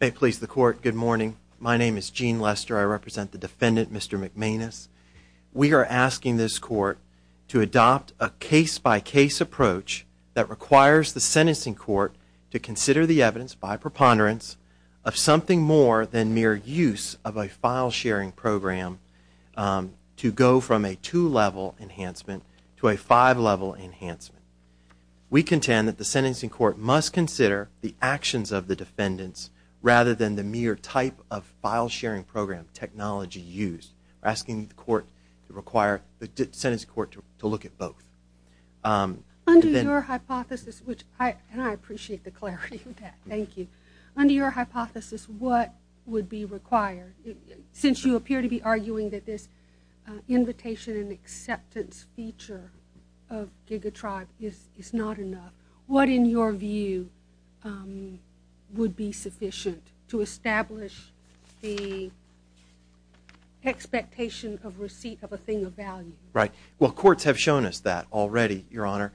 May it please the court, good morning. My name is Gene Lester. I represent the defendant, Mr. McManus. We are asking this court to adopt a case-by-case approach that requires the sentencing court to consider the evidence by preponderance of something more than mere use of a file-sharing program to go from a two-level enhancement to a five-level enhancement. We contend that the sentencing court must consider the actions of the defendants rather than the mere type of file-sharing program technology used. We are asking the court to require the sentencing court to look at both. Under your hypothesis, and I appreciate the clarity of that, thank you. Under your hypothesis, what would be required? Since you appear to be arguing that this invitation and acceptance feature of GigaTribe is not enough, what in your view would be sufficient to establish the expectation of receipt of a thing of value? Well, courts have shown us that already, Your Honor.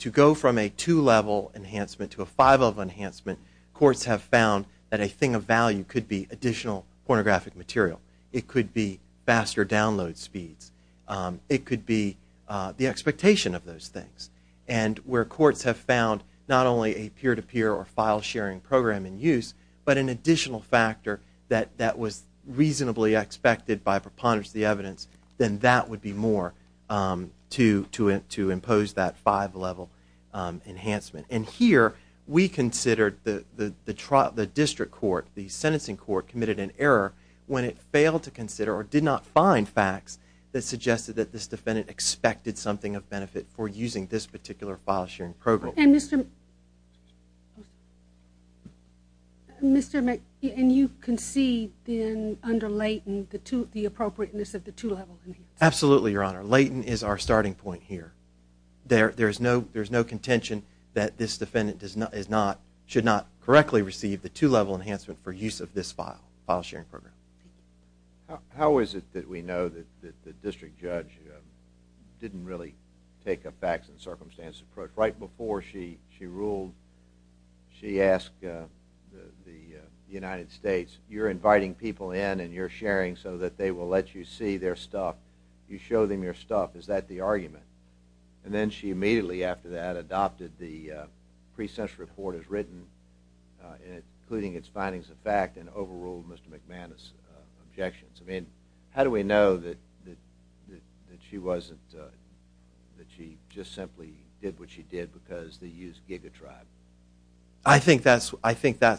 To go from a two-level enhancement to a five-level enhancement, courts have found that a thing of value could be additional pornographic material. It could be faster download speeds. It could be the expectation of those things. And where courts have found not only a peer-to-peer or file-sharing program in use, but an additional factor that was reasonably expected by preponderance of the evidence, then that would be more to impose that five-level enhancement. And here, we considered the district court, the sentencing court, committed an error when it failed to consider or did not find facts that suggested that this defendant expected something of benefit for using this particular file-sharing program. And you concede, then, under Leighton, the appropriateness of the two-level enhancement? Absolutely, Your Honor. Leighton is our starting point here. There is no contention that this defendant should not correctly receive the two-level enhancement for use of this file-sharing program. How is it that we know that the district judge didn't really take a facts and circumstances approach right before she ruled, she asked the United States, you're inviting people in and you're sharing so that they will let you see their stuff. You show them your stuff. Is that the argument? And then she immediately after that adopted the pre-sentence report as written, including its findings of fact, and overruled Mr. McManus' objections. I mean, how do we know that she just simply did what she did because they used GigaTribe? I think that's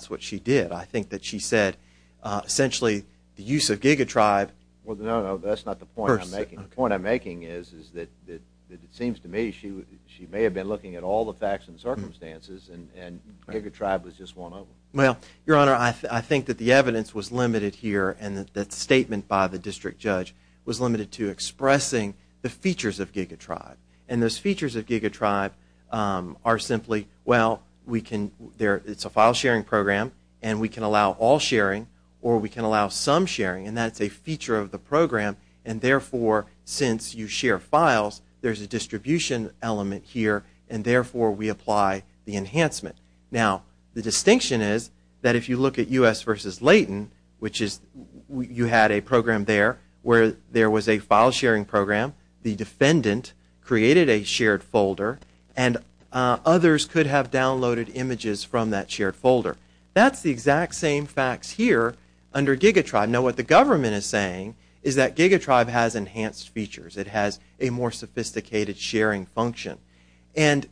what she did. I think that she said, essentially, the use of GigaTribe… Well, no, no, that's not the point I'm making. The point I'm making is that it seems to me she may have been looking at all the facts and circumstances and GigaTribe was just one of them. Well, Your Honor, I think that the evidence was limited here and that statement by the district judge was limited to expressing the features of GigaTribe. And those features of GigaTribe are simply, well, it's a file-sharing program and we can allow all sharing or we can allow some sharing and that's a feature of the program and therefore, since you share files, there's a distribution element here and therefore we apply the enhancement. Now, the distinction is that if you look at U.S. versus Leighton, which is you had a program there where there was a file-sharing program, the defendant created a shared folder and others could have downloaded images from that shared folder. That's the exact same facts here under GigaTribe. Now, what the government is saying is that GigaTribe has enhanced features. It has a more sophisticated sharing function. But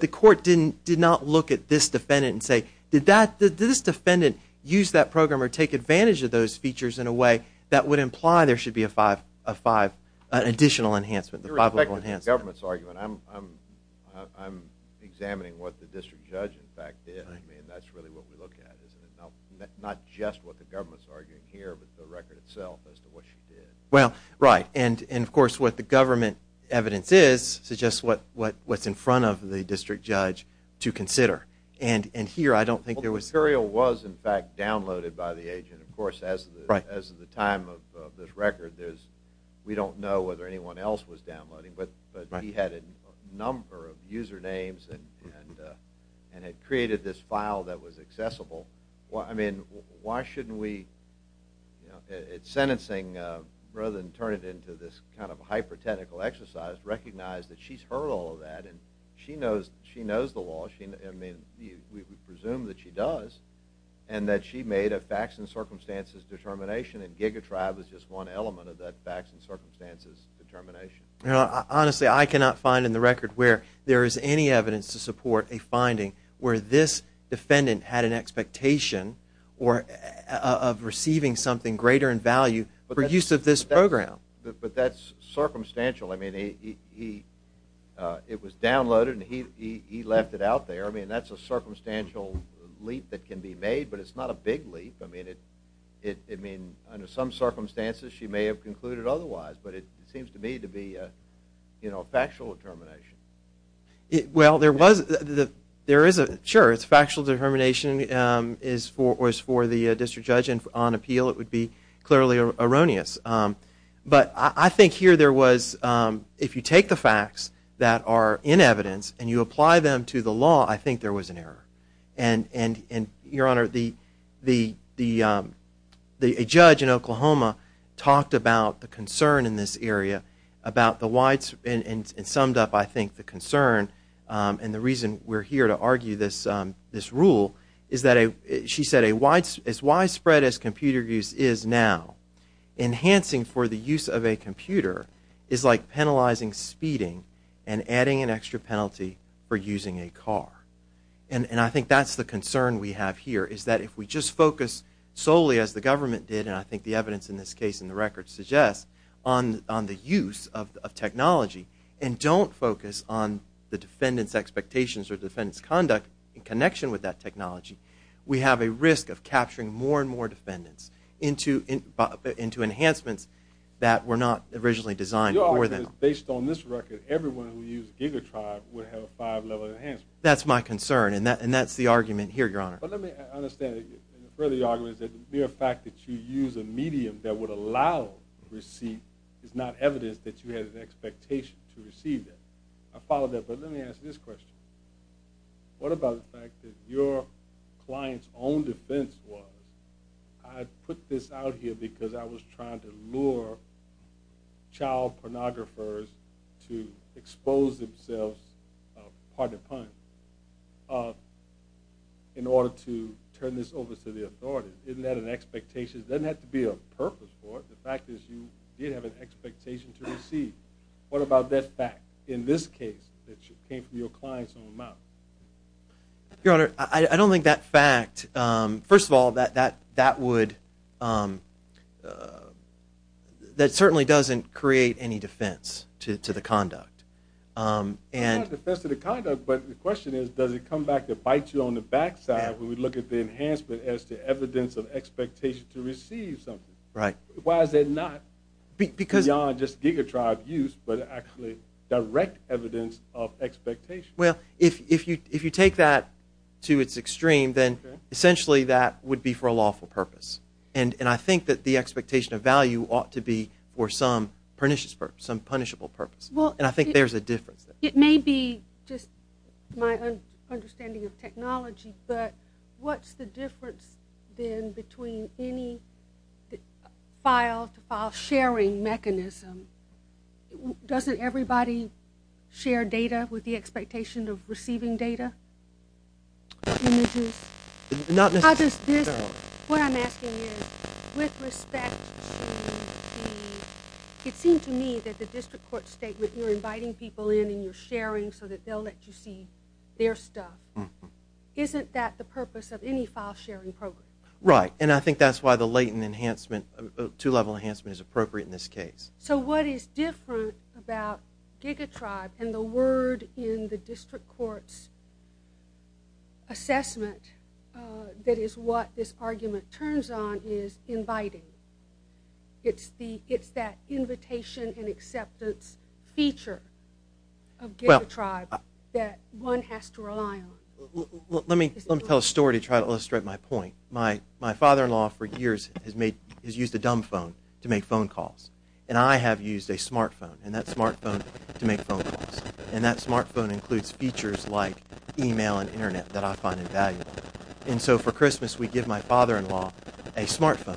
the court did not look at this defendant and say, did this defendant use that program or take advantage of those features in a way that would imply there should be an additional enhancement, a five-level enhancement. You're reflecting on the government's argument. I'm examining what the district judge, in fact, did. I mean, that's really what we look at, isn't it? Not just what the government's arguing here, but the record itself as to what she did. Well, right. And, of course, what the government evidence is suggests what's in front of the district judge to consider. And here, I don't think there was – Well, Curiel was, in fact, downloaded by the agent, of course, as of the time of this record. We don't know whether anyone else was downloading, but he had a number of usernames and had created this file that was accessible. I mean, why shouldn't we – it's sentencing, rather than turn it into this kind of hyper-technical exercise, recognize that she's heard all of that and she knows the law. I mean, we presume that she does and that she made a facts and circumstances determination, and Giga Tribe is just one element of that facts and circumstances determination. Honestly, I cannot find in the record where there is any evidence to support a finding where this defendant had an expectation of receiving something greater in value for use of this program. But that's circumstantial. I mean, it was downloaded and he left it out there. I mean, that's a circumstantial leap that can be made, but it's not a big leap. I mean, under some circumstances she may have concluded otherwise, but it seems to me to be a factual determination. Well, there is a – sure, it's factual determination. If it was for the district judge on appeal, it would be clearly erroneous. But I think here there was – if you take the facts that are in evidence and you apply them to the law, I think there was an error. And, Your Honor, a judge in Oklahoma talked about the concern in this area about the widespread – and summed up, I think, the concern and the reason we're here to argue this rule is that she said as widespread as computer use is now, enhancing for the use of a computer is like penalizing speeding and adding an extra penalty for using a car. And I think that's the concern we have here is that if we just focus solely, as the government did, and I think the evidence in this case in the record suggests, on the use of technology and don't focus on the defendant's expectations or defendant's conduct in connection with that technology, we have a risk of capturing more and more defendants into enhancements that were not originally designed for them. Your argument is based on this record, everyone who used Gigatribe would have a five-level enhancement. That's my concern, and that's the argument here, Your Honor. But let me understand. The further argument is that the mere fact that you use a medium that would allow receipt is not evidence that you had an expectation to receive that. I follow that, but let me ask this question. What about the fact that your client's own defense was, I put this out here because I was trying to lure child pornographers to expose themselves, pardon the pun, in order to turn this over to the authorities? Isn't that an expectation? It doesn't have to be a purpose for it. The fact is you did have an expectation to receive. What about that fact in this case that came from your client's own mouth? Your Honor, I don't think that fact, first of all, that would, that certainly doesn't create any defense to the conduct. It's not a defense to the conduct, but the question is does it come back to bite you on the backside when we look at the enhancement as the evidence of expectation to receive something? Why is that not beyond just Gigatribe use but actually direct evidence of expectation? Well, if you take that to its extreme, then essentially that would be for a lawful purpose. And I think that the expectation of value ought to be for some punishable purpose. And I think there's a difference there. It may be just my understanding of technology, but what's the difference then between any file-to-file sharing mechanism? Doesn't everybody share data with the expectation of receiving data? Not necessarily. What I'm asking is with respect to the, it seemed to me that the district court statement you're inviting people in and you're sharing so that they'll let you see their stuff. Isn't that the purpose of any file-sharing program? Right, and I think that's why the latent enhancement, two-level enhancement is appropriate in this case. So what is different about Gigatribe and the word in the district court's assessment that is what this argument turns on is inviting? It's that invitation and acceptance feature of Gigatribe that one has to rely on. Let me tell a story to try to illustrate my point. My father-in-law for years has used a dumb phone to make phone calls, and I have used a smart phone, and that smart phone to make phone calls. And that smart phone includes features like email and Internet that I find invaluable. And so for Christmas we give my father-in-law a smart phone,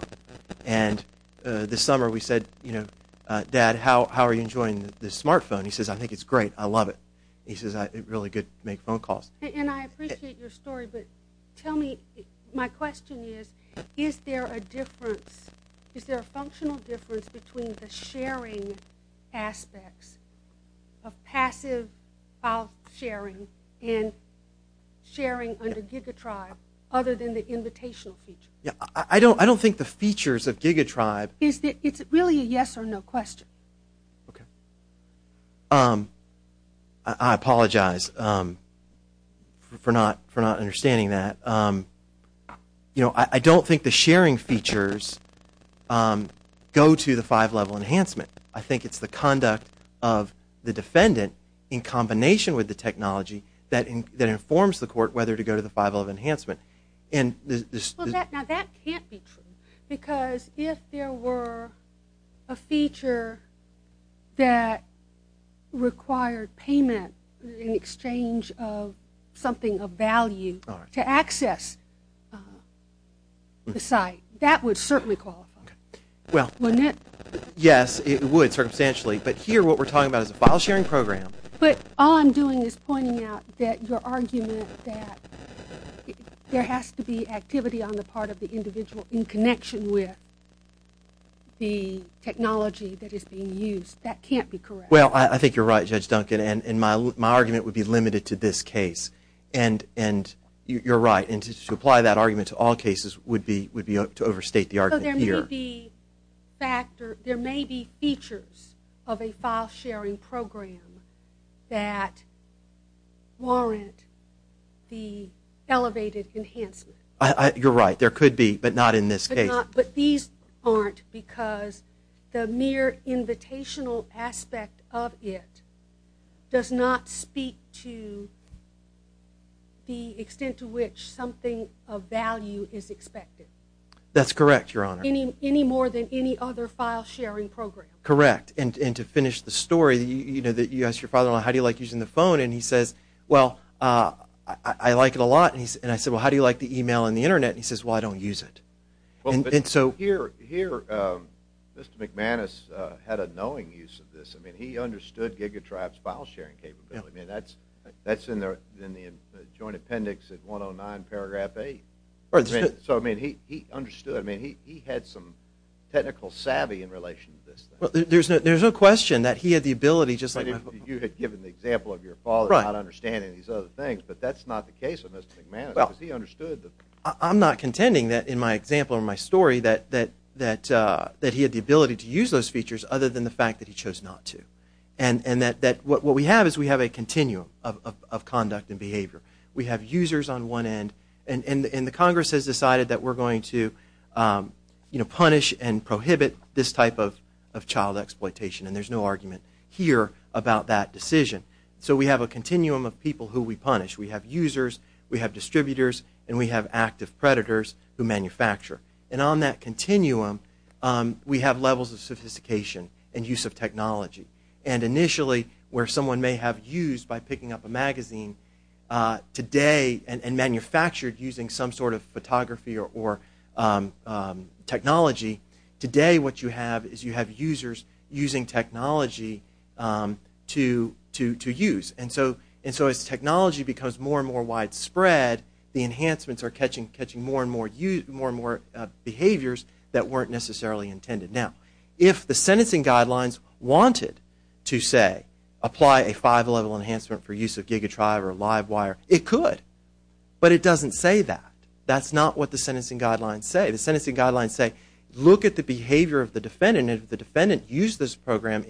and this summer we said, you know, Dad, how are you enjoying this smart phone? He says, I think it's great. I love it. He says it's really good to make phone calls. And I appreciate your story, but tell me, my question is, is there a difference, is there a functional difference between the sharing aspects of passive file-sharing and sharing under Gigatribe other than the invitational feature? I don't think the features of Gigatribe. It's really a yes or no question. Okay. I apologize for not understanding that. You know, I don't think the sharing features go to the five-level enhancement. I think it's the conduct of the defendant in combination with the technology that informs the court whether to go to the five-level enhancement. Now, that can't be true because if there were a feature that required payment in exchange of something of value to access the site, that would certainly qualify. Well, yes, it would circumstantially. But here what we're talking about is a file-sharing program. But all I'm doing is pointing out that your argument that there has to be activity on the part of the individual in connection with the technology that is being used, that can't be correct. Well, I think you're right, Judge Duncan, and my argument would be limited to this case. And you're right, and to apply that argument to all cases would be to overstate the argument here. There may be features of a file-sharing program that warrant the elevated enhancement. You're right, there could be, but not in this case. But these aren't because the mere invitational aspect of it does not speak to the extent to which something of value is expected. That's correct, Your Honor. Any more than any other file-sharing program. Correct. And to finish the story, you know, you ask your father-in-law, how do you like using the phone? And he says, well, I like it a lot. And I said, well, how do you like the email and the Internet? And he says, well, I don't use it. Here, Mr. McManus had a knowing use of this. I mean, he understood GigaDrive's file-sharing capability. I mean, that's in the joint appendix at 109 paragraph 8. So, I mean, he understood. I mean, he had some technical savvy in relation to this. There's no question that he had the ability. You had given the example of your father not understanding these other things, but that's not the case of Mr. McManus because he understood. I'm not contending that in my example or my story that he had the ability to use those features other than the fact that he chose not to. And that what we have is we have a continuum of conduct and behavior. We have users on one end, and the Congress has decided that we're going to punish and prohibit this type of child exploitation, and there's no argument here about that decision. So we have a continuum of people who we punish. We have users, we have distributors, and we have active predators who manufacture. And on that continuum, we have levels of sophistication and use of technology. And initially, where someone may have used by picking up a magazine today and manufactured using some sort of photography or technology, today what you have is you have users using technology to use. And so as technology becomes more and more widespread, the enhancements are catching more and more behaviors that weren't necessarily intended. Now, if the sentencing guidelines wanted to say apply a five-level enhancement for use of giga drive or live wire, it could. But it doesn't say that. That's not what the sentencing guidelines say. The sentencing guidelines say look at the behavior of the defendant, and if the defendant used the program,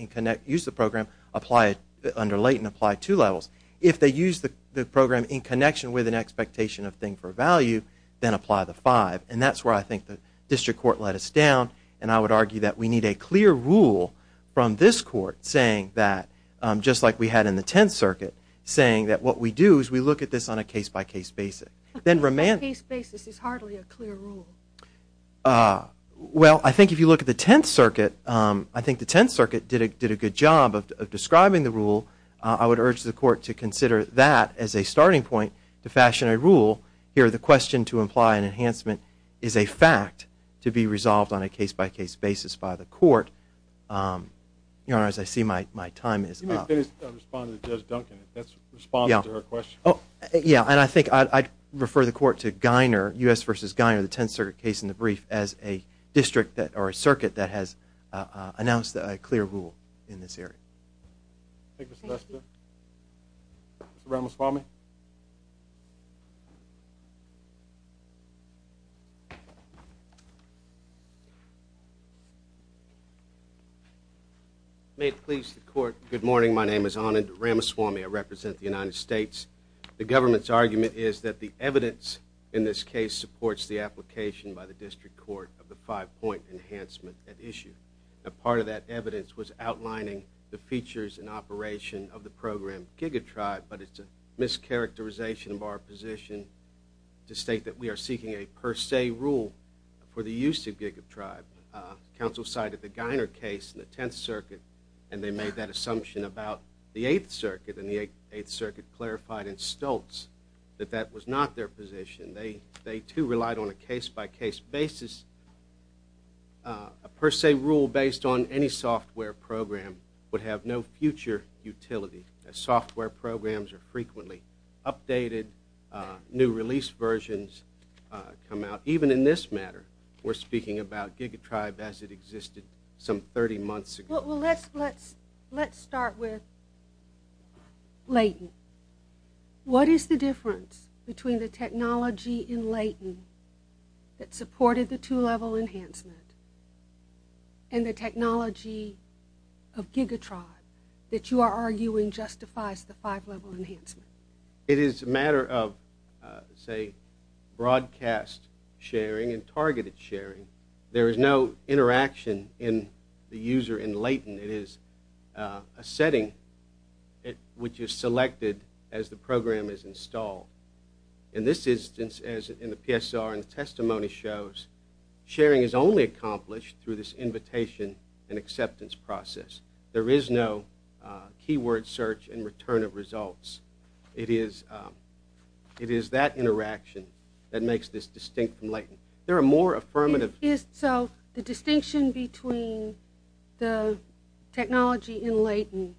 apply it under late and apply two levels. If they used the program in connection with an expectation of thing for value, then apply the five. And that's where I think the district court let us down, and I would argue that we need a clear rule from this court saying that, just like we had in the Tenth Circuit, saying that what we do is we look at this on a case-by-case basis. A case-by-case basis is hardly a clear rule. Well, I think if you look at the Tenth Circuit, I think the Tenth Circuit did a good job of describing the rule. I would urge the court to consider that as a starting point to fashion a rule. Here, the question to imply an enhancement is a fact to be resolved on a case-by-case basis by the court. Your Honor, as I see my time is up. You may finish responding to Judge Duncan. That's a response to her question. Yeah, and I think I'd refer the court to Geiner, U.S. v. Geiner, the Tenth Circuit case in the brief, as a district or a circuit that has announced a clear rule in this area. Thank you. Thank you, Mr. Lester. Mr. Ramaswamy. May it please the court, good morning. My name is Anand Ramaswamy. I represent the United States. The government's argument is that the evidence in this case supports the application by the district court of the five-point enhancement at issue. A part of that evidence was outlining the features and operation of the program GigaTribe, but it's a mischaracterization of our position to state that we are seeking a per se rule for the use of GigaTribe. Counsel cited the Geiner case in the Tenth Circuit, and they made that assumption about the Eighth Circuit, and the Eighth Circuit clarified in Stoltz that that was not their position. They, too, relied on a case-by-case basis. A per se rule based on any software program would have no future utility. Software programs are frequently updated. New release versions come out. Even in this matter, we're speaking about GigaTribe as it existed some 30 months ago. Well, let's start with Layton. What is the difference between the technology in Layton that supported the two-level enhancement and the technology of GigaTribe that you are arguing justifies the five-level enhancement? It is a matter of, say, broadcast sharing and targeted sharing. There is no interaction in the user in Layton. It is a setting which is selected as the program is installed. In this instance, as in the PSR and the testimony shows, sharing is only accomplished through this invitation and acceptance process. There is no keyword search and return of results. It is that interaction that makes this distinct from Layton. So the distinction between the technology in Layton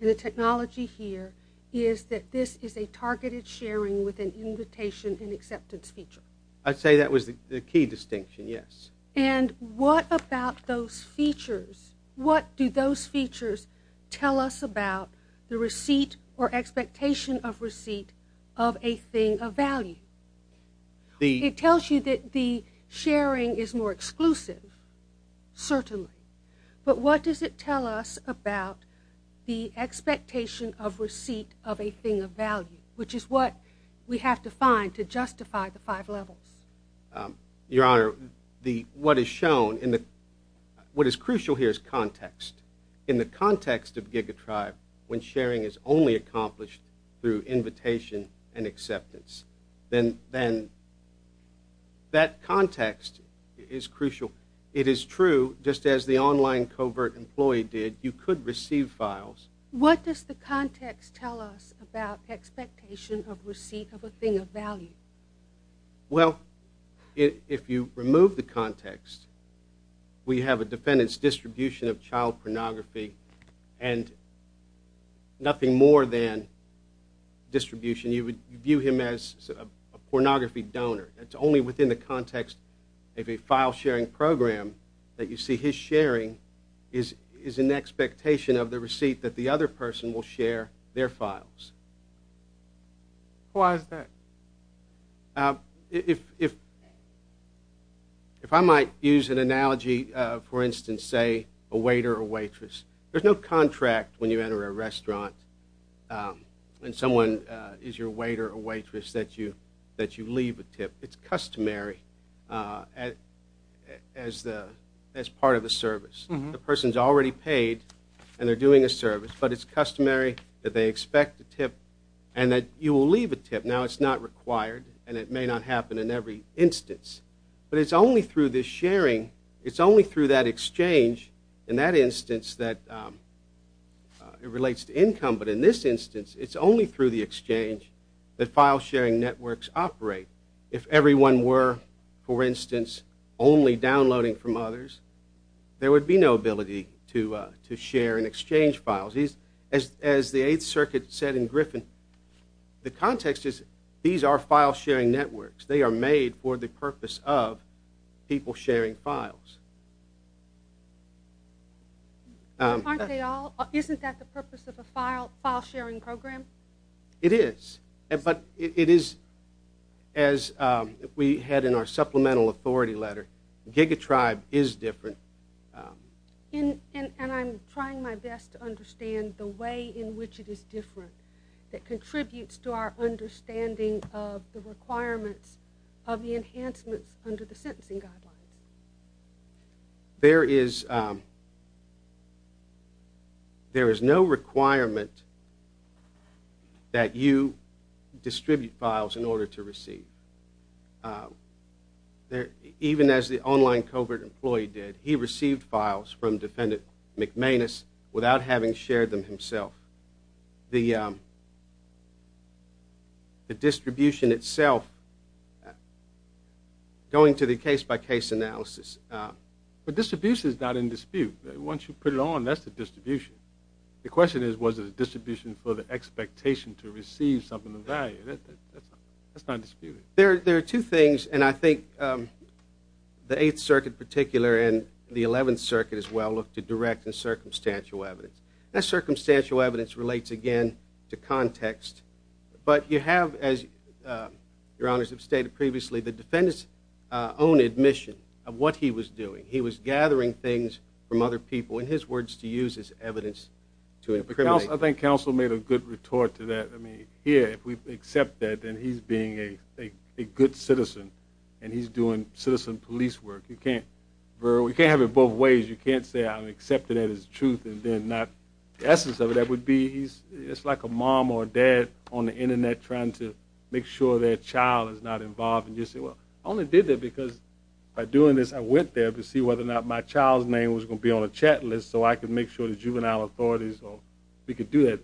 and the technology here is that this is a targeted sharing with an invitation and acceptance feature. I'd say that was the key distinction, yes. And what about those features? What do those features tell us about the receipt or expectation of receipt of a thing of value? It tells you that the sharing is more exclusive, certainly. But what does it tell us about the expectation of receipt of a thing of value, which is what we have to find to justify the five levels? Your Honor, what is crucial here is context. In the context of GigaTribe, when sharing is only accomplished through invitation and acceptance, then that context is crucial. It is true, just as the online covert employee did, you could receive files. What does the context tell us about expectation of receipt of a thing of value? Well, if you remove the context, we have a defendant's distribution of child pornography and nothing more than distribution. You would view him as a pornography donor. It's only within the context of a file-sharing program that you see his sharing is an expectation of the receipt that the other person will share their files. Why is that? If I might use an analogy, for instance, say a waiter or waitress, there's no contract when you enter a restaurant and someone is your waiter or waitress that you leave a tip. It's customary as part of the service. The person is already paid and they're doing a service, but it's customary that they expect a tip and that you will leave a tip. Now, it's not required, and it may not happen in every instance. But it's only through this sharing, it's only through that exchange, in that instance that it relates to income, but in this instance it's only through the exchange that file-sharing networks operate. If everyone were, for instance, only downloading from others, there would be no ability to share and exchange files. As the Eighth Circuit said in Griffin, the context is these are file-sharing networks. They are made for the purpose of people sharing files. Aren't they all? Isn't that the purpose of a file-sharing program? It is, but it is as we had in our supplemental authority letter. GigaTribe is different. And I'm trying my best to understand the way in which it is different that contributes to our understanding of the requirements of the enhancements under the sentencing guidelines. There is no requirement that you distribute files in order to receive. Even as the online covert employee did, he received files from Defendant McManus without having shared them himself. The distribution itself, going to the case-by-case analysis. But distribution is not in dispute. Once you put it on, that's the distribution. The question is, was it a distribution for the expectation to receive something of value? That's not disputed. There are two things, and I think the Eighth Circuit in particular and the Eleventh Circuit as well look to direct and circumstantial evidence. That circumstantial evidence relates, again, to context. But you have, as Your Honors have stated previously, the Defendant's own admission of what he was doing. He was gathering things from other people, in his words, to use as evidence to incriminate. I think counsel made a good retort to that. I mean, here, if we accept that, then he's being a good citizen, and he's doing citizen police work. You can't have it both ways. You can't say I'm accepting it as truth and then not. The essence of it, that would be it's like a mom or a dad on the Internet trying to make sure their child is not involved. And you say, well, I only did that because by doing this, I went there to see whether or not my child's name was going to be on a chat list so I could make sure the juvenile authorities or we could do that.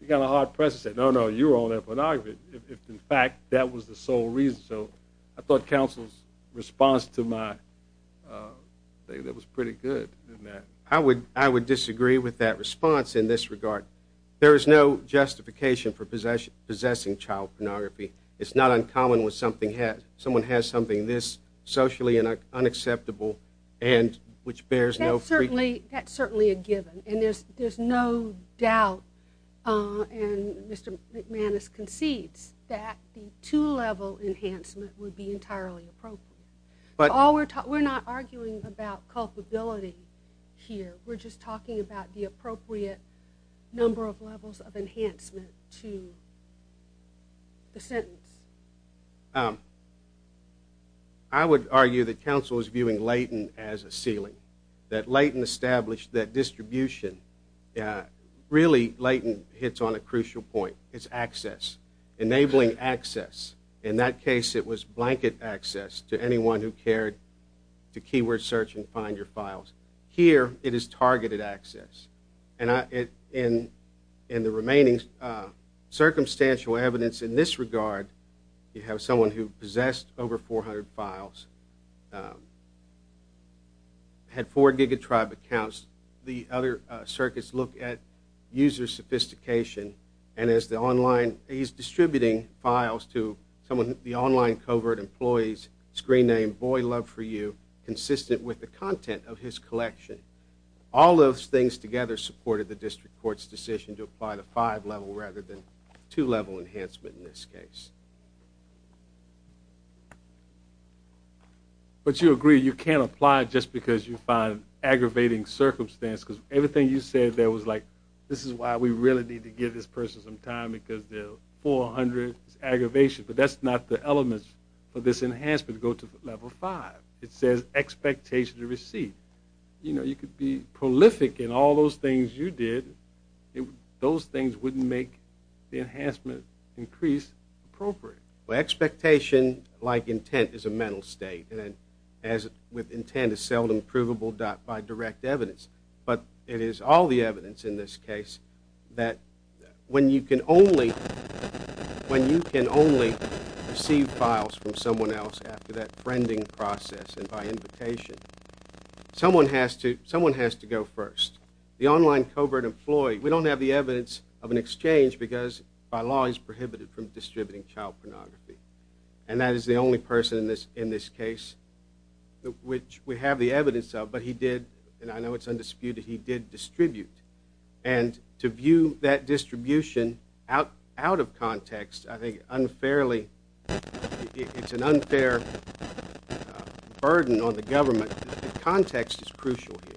He got a hard press and said, no, no, you were on that pornography, if, in fact, that was the sole reason. So I thought counsel's response to my statement was pretty good in that. I would disagree with that response in this regard. There is no justification for possessing child pornography. It's not uncommon when someone has something this socially unacceptable and which bears no freakiness. That's certainly a given. And there's no doubt, and Mr. McManus concedes, that the two-level enhancement would be entirely appropriate. We're not arguing about culpability here. We're just talking about the appropriate number of levels of enhancement to the sentence. I would argue that counsel is viewing Layton as a ceiling, that Layton established that distribution. Really, Layton hits on a crucial point. It's access, enabling access. In that case, it was blanket access to anyone who cared to keyword search and find your files. Here, it is targeted access. And in the remaining circumstantial evidence in this regard, you have someone who possessed over 400 files, had four GigaTribe accounts. The other circuits look at user sophistication, and he's distributing files to the online covert employee's screen name, Boy Love for You, consistent with the content of his collection. All those things together supported the district court's decision to apply the five-level rather than two-level enhancement in this case. But you agree you can't apply it just because you find aggravating circumstance because everything you said there was like, this is why we really need to give this person some time because there are 400 aggravations. But that's not the elements for this enhancement to go to level five. It says expectation to receive. You could be prolific in all those things you did. Those things wouldn't make the enhancement increase appropriate. Well, expectation, like intent, is a mental state. And as with intent, it's seldom provable by direct evidence. But it is all the evidence in this case that when you can only receive files from someone else after that friending process and by invitation, someone has to go first. The online covert employee, we don't have the evidence of an exchange because by law he's prohibited from distributing child pornography. And that is the only person in this case which we have the evidence of, but he did, and I know it's undisputed, he did distribute. And to view that distribution out of context, I think unfairly, it's an unfair burden on the government. The context is crucial here.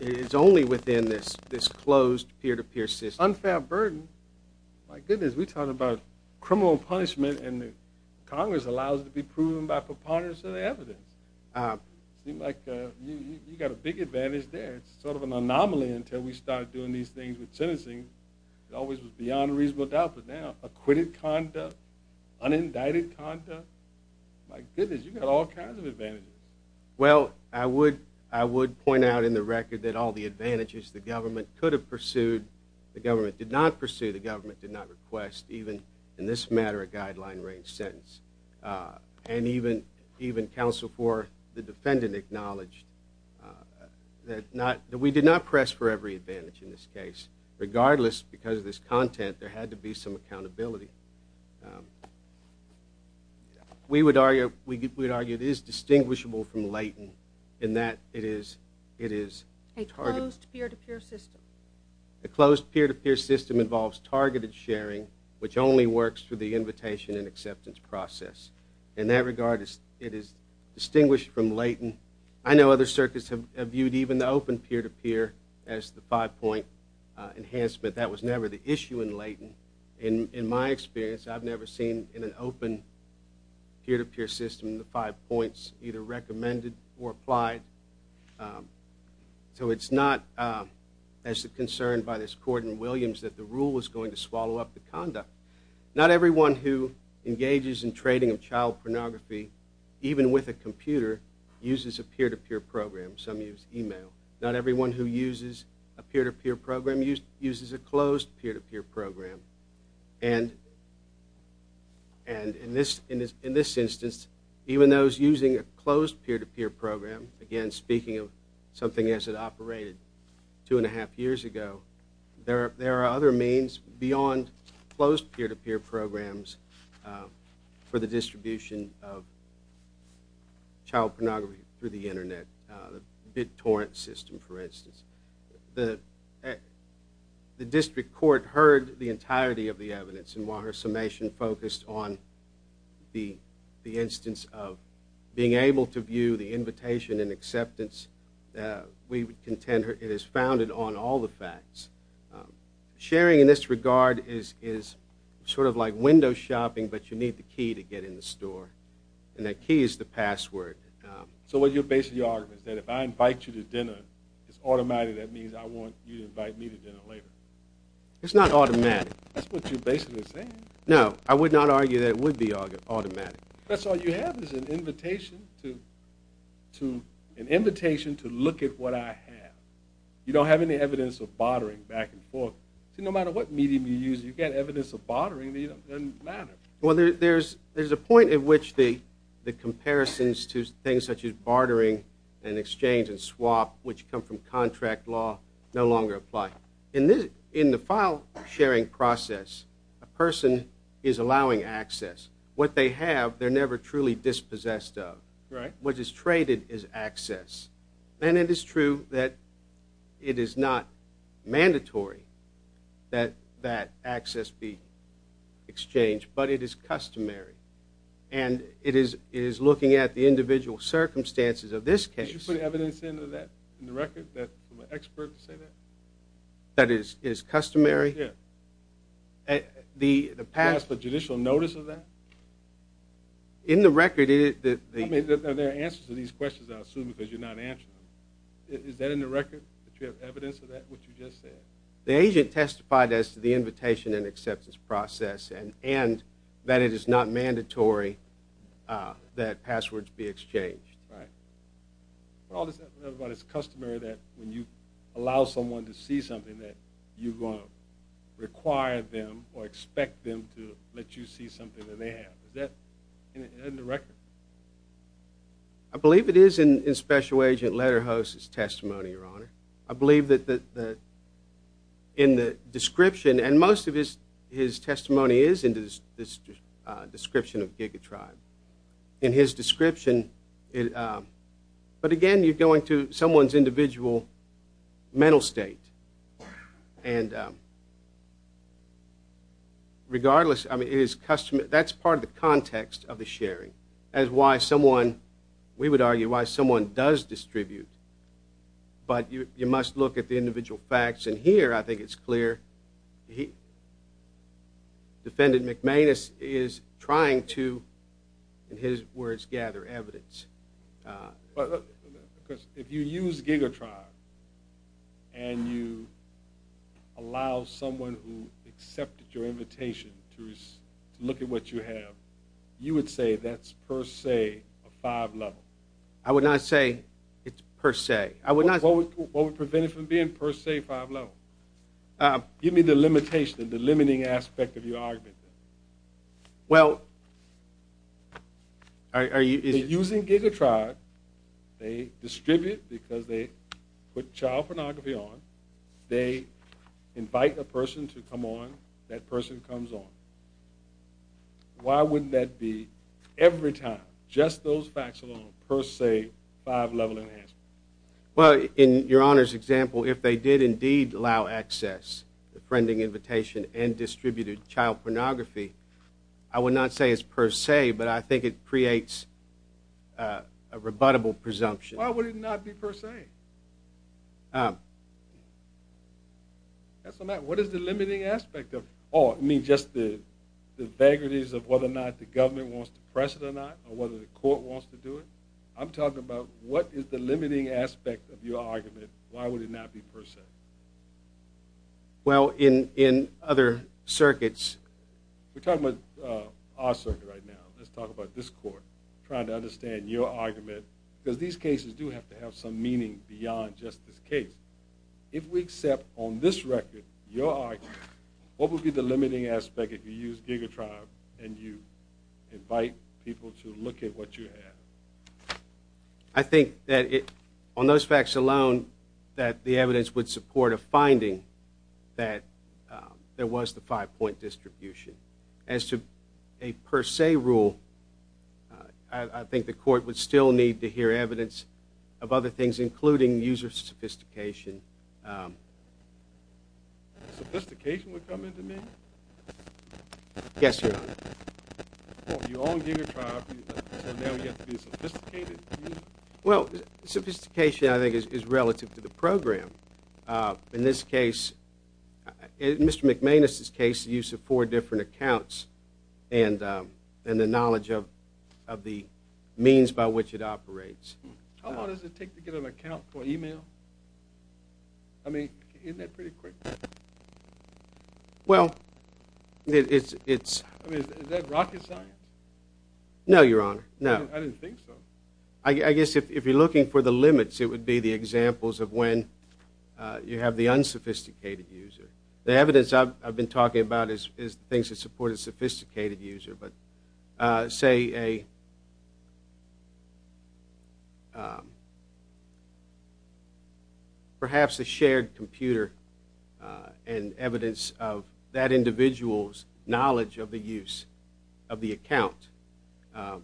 It is only within this closed peer-to-peer system. Unfair burden? My goodness, we're talking about criminal punishment and Congress allows it to be proven by preponderance of the evidence. It seems like you've got a big advantage there. It's sort of an anomaly until we start doing these things with sentencing. It always was beyond a reasonable doubt, but now acquitted conduct, unindicted conduct. My goodness, you've got all kinds of advantages. Well, I would point out in the record that all the advantages the government could have pursued, the government did not pursue, the government did not request, even in this matter, a guideline-range sentence. And even counsel for the defendant acknowledged that we did not press for every advantage in this case. Regardless, because of this content, there had to be some accountability. We would argue it is distinguishable from latent in that it is a target. A closed peer-to-peer system. A closed peer-to-peer system involves targeted sharing, which only works through the invitation and acceptance process. In that regard, it is distinguished from latent. I know other circuits have viewed even the open peer-to-peer as the five-point enhancement. That was never the issue in latent. In my experience, I've never seen, in an open peer-to-peer system, the five points either recommended or applied. So it's not as a concern by this court in Williams that the rule was going to swallow up the conduct. Not everyone who engages in trading of child pornography, even with a computer, uses a peer-to-peer program. Some use email. Not everyone who uses a peer-to-peer program uses a closed peer-to-peer program. And in this instance, even those using a closed peer-to-peer program, again, speaking of something as it operated two and a half years ago, there are other means beyond closed peer-to-peer programs for the distribution of child pornography through the Internet, the BitTorrent system, for instance. The district court heard the entirety of the evidence, and while her summation focused on the instance of being able to view the invitation and acceptance, we would contend it is founded on all the facts. Sharing in this regard is sort of like window shopping, but you need the key to get in the store, and that key is the password. So what you're basing your argument is that if I invite you to dinner, it's automatically that means I want you to invite me to dinner later? It's not automatic. That's what you're basically saying. No, I would not argue that it would be automatic. That's all you have is an invitation to look at what I have. You don't have any evidence of bartering back and forth. See, no matter what medium you use, you've got evidence of bartering that doesn't matter. Well, there's a point at which the comparisons to things such as bartering and exchange and swap, which come from contract law, no longer apply. In the file-sharing process, a person is allowing access. What they have, they're never truly dispossessed of. Right. What is traded is access. And it is true that it is not mandatory that that access be exchanged, but it is customary. And it is looking at the individual circumstances of this case. Did you put evidence into that in the record from an expert to say that? That it is customary? Yeah. You ask for judicial notice of that? In the record, it is. I mean, there are answers to these questions, I assume, because you're not answering them. Is that in the record, that you have evidence of that, what you just said? The agent testified as to the invitation and acceptance process and that it is not mandatory that passwords be exchanged. Right. It's customary that when you allow someone to see something, that you're going to require them or expect them to let you see something that they have. Is that in the record? I believe it is in Special Agent Lederhoff's testimony, Your Honor. I believe that in the description, and most of his testimony is in this description of Giga Tribe. In his description. But again, you're going to someone's individual mental state. Regardless, that's part of the context of the sharing. That's why someone, we would argue, why someone does distribute. But you must look at the individual facts. And here I think it's clear. Defendant McManus is trying to, in his words, gather evidence. Because if you use Giga Tribe and you allow someone who accepted your invitation to look at what you have, you would say that's per se a five-level. I would not say it's per se. What would prevent it from being per se five-level? Give me the limitation, the limiting aspect of your argument. Well, are you... Using Giga Tribe, they distribute because they put child pornography on. They invite a person to come on. That person comes on. Why wouldn't that be, every time, just those facts alone, per se, five-level enhancement? Well, in your Honor's example, if they did indeed allow access, the friending invitation, and distributed child pornography, I would not say it's per se, but I think it creates a rebuttable presumption. Why would it not be per se? What is the limiting aspect of it? Oh, you mean just the vagaries of whether or not the government wants to press it or not, or whether the court wants to do it? I'm talking about what is the limiting aspect of your argument. Why would it not be per se? Well, in other circuits... We're talking about our circuit right now. Let's talk about this court, trying to understand your argument, because these cases do have to have some meaning beyond just this case. If we accept, on this record, your argument, what would be the limiting aspect if you use GigaTribe and you invite people to look at what you have? I think that, on those facts alone, that the evidence would support a finding that there was the five-point distribution. As to a per se rule, I think the court would still need to hear evidence of other things, including user sophistication. Sophistication would come into being? Yes, Your Honor. You own GigaTribe, so now you have to be a sophisticated user? Well, sophistication, I think, is relative to the program. In this case... In Mr. McManus's case, the use of four different accounts and the knowledge of the means by which it operates. How long does it take to get an account for email? I mean, isn't that pretty quick? Well, it's... I mean, is that rocket science? No, Your Honor, no. I didn't think so. I guess if you're looking for the limits, it would be the examples of when you have the unsophisticated user. The evidence I've been talking about is things that support a sophisticated user, but say a... perhaps a shared computer and evidence of that individual's knowledge of the use of the account. Well,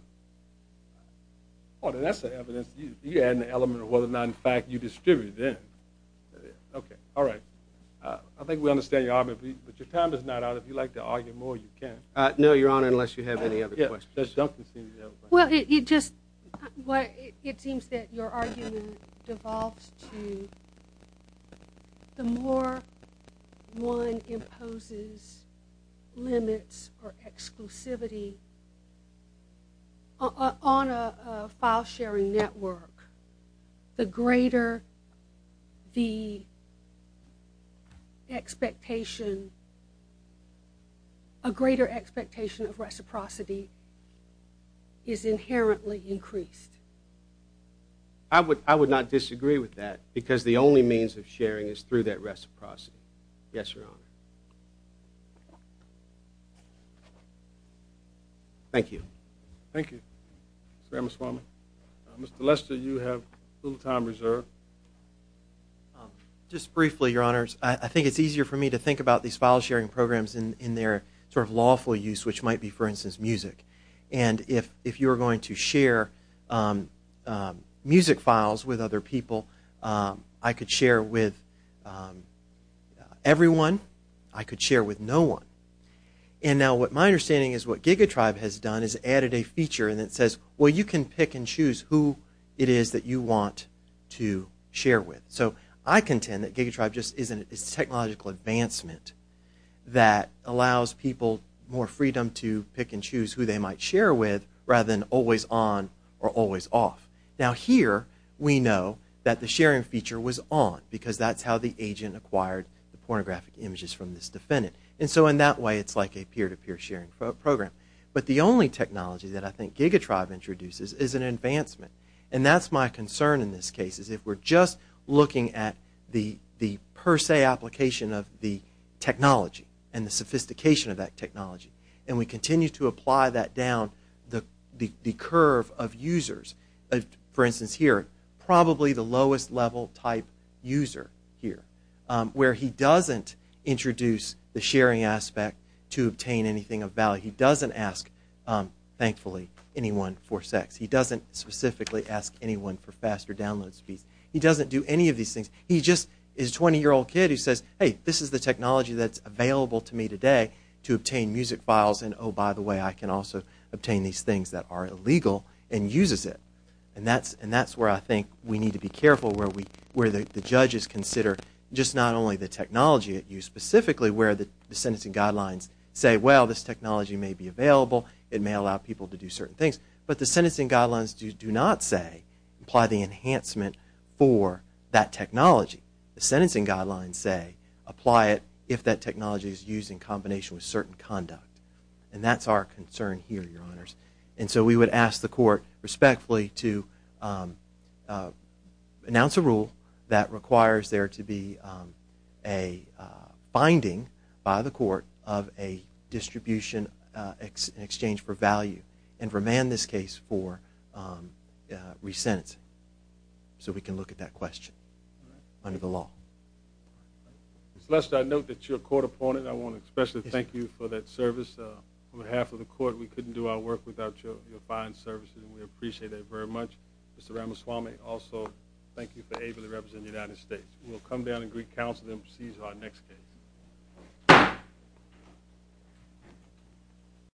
then that's the evidence. You add an element of whether or not, in fact, you distributed it. Okay, all right. I think we understand your argument, but your time is not out. If you'd like to argue more, you can. No, Your Honor, unless you have any other questions. Well, it just seems that your argument devolves to the more one imposes limits or exclusivity on a file-sharing network, the greater the expectation... a greater expectation of reciprocity is inherently increased. I would not disagree with that, because the only means of sharing is through that reciprocity. Yes, Your Honor. Thank you. Thank you. Mr. Ameswamy. Mr. Lester, you have a little time reserved. Just briefly, Your Honors, I think it's easier for me to think about these file-sharing programs in their sort of lawful use, which might be, for instance, music. And if you're going to share music files with other people, I could share with everyone. I could share with no one. And now what my understanding is what GigaTribe has done is added a feature that says, well, you can pick and choose who it is that you want to share with. So I contend that GigaTribe just is a technological advancement that allows people more freedom to pick and choose who they might share with rather than always on or always off. Now here we know that the sharing feature was on, because that's how the agent acquired the pornographic images from this defendant. And so in that way it's like a peer-to-peer sharing program. But the only technology that I think GigaTribe introduces is an advancement. And that's my concern in this case, is if we're just looking at the per se application of the technology and the sophistication of that technology and we continue to apply that down the curve of users. For instance, here, probably the lowest level type user here, he doesn't ask, thankfully, anyone for sex. He doesn't specifically ask anyone for faster download speeds. He doesn't do any of these things. He just is a 20-year-old kid who says, hey, this is the technology that's available to me today to obtain music files, and oh, by the way, I can also obtain these things that are illegal, and uses it. And that's where I think we need to be careful, where the judges consider just not only the technology at use, specifically where the sentencing guidelines say, well, this technology may be available. It may allow people to do certain things. But the sentencing guidelines do not say apply the enhancement for that technology. The sentencing guidelines say apply it if that technology is used in combination with certain conduct. And that's our concern here, Your Honors. And so we would ask the court respectfully to announce a rule that requires there to be a finding by the court of a distribution in exchange for value and remand this case for re-sentencing so we can look at that question under the law. Mr. Lester, I note that you're a court opponent. I want to especially thank you for that service. On behalf of the court, we couldn't do our work without your fine services, and we appreciate that very much. Mr. Ramaswamy, also thank you for ably representing the United States. We'll come down and greet counsel and then proceed to our next case.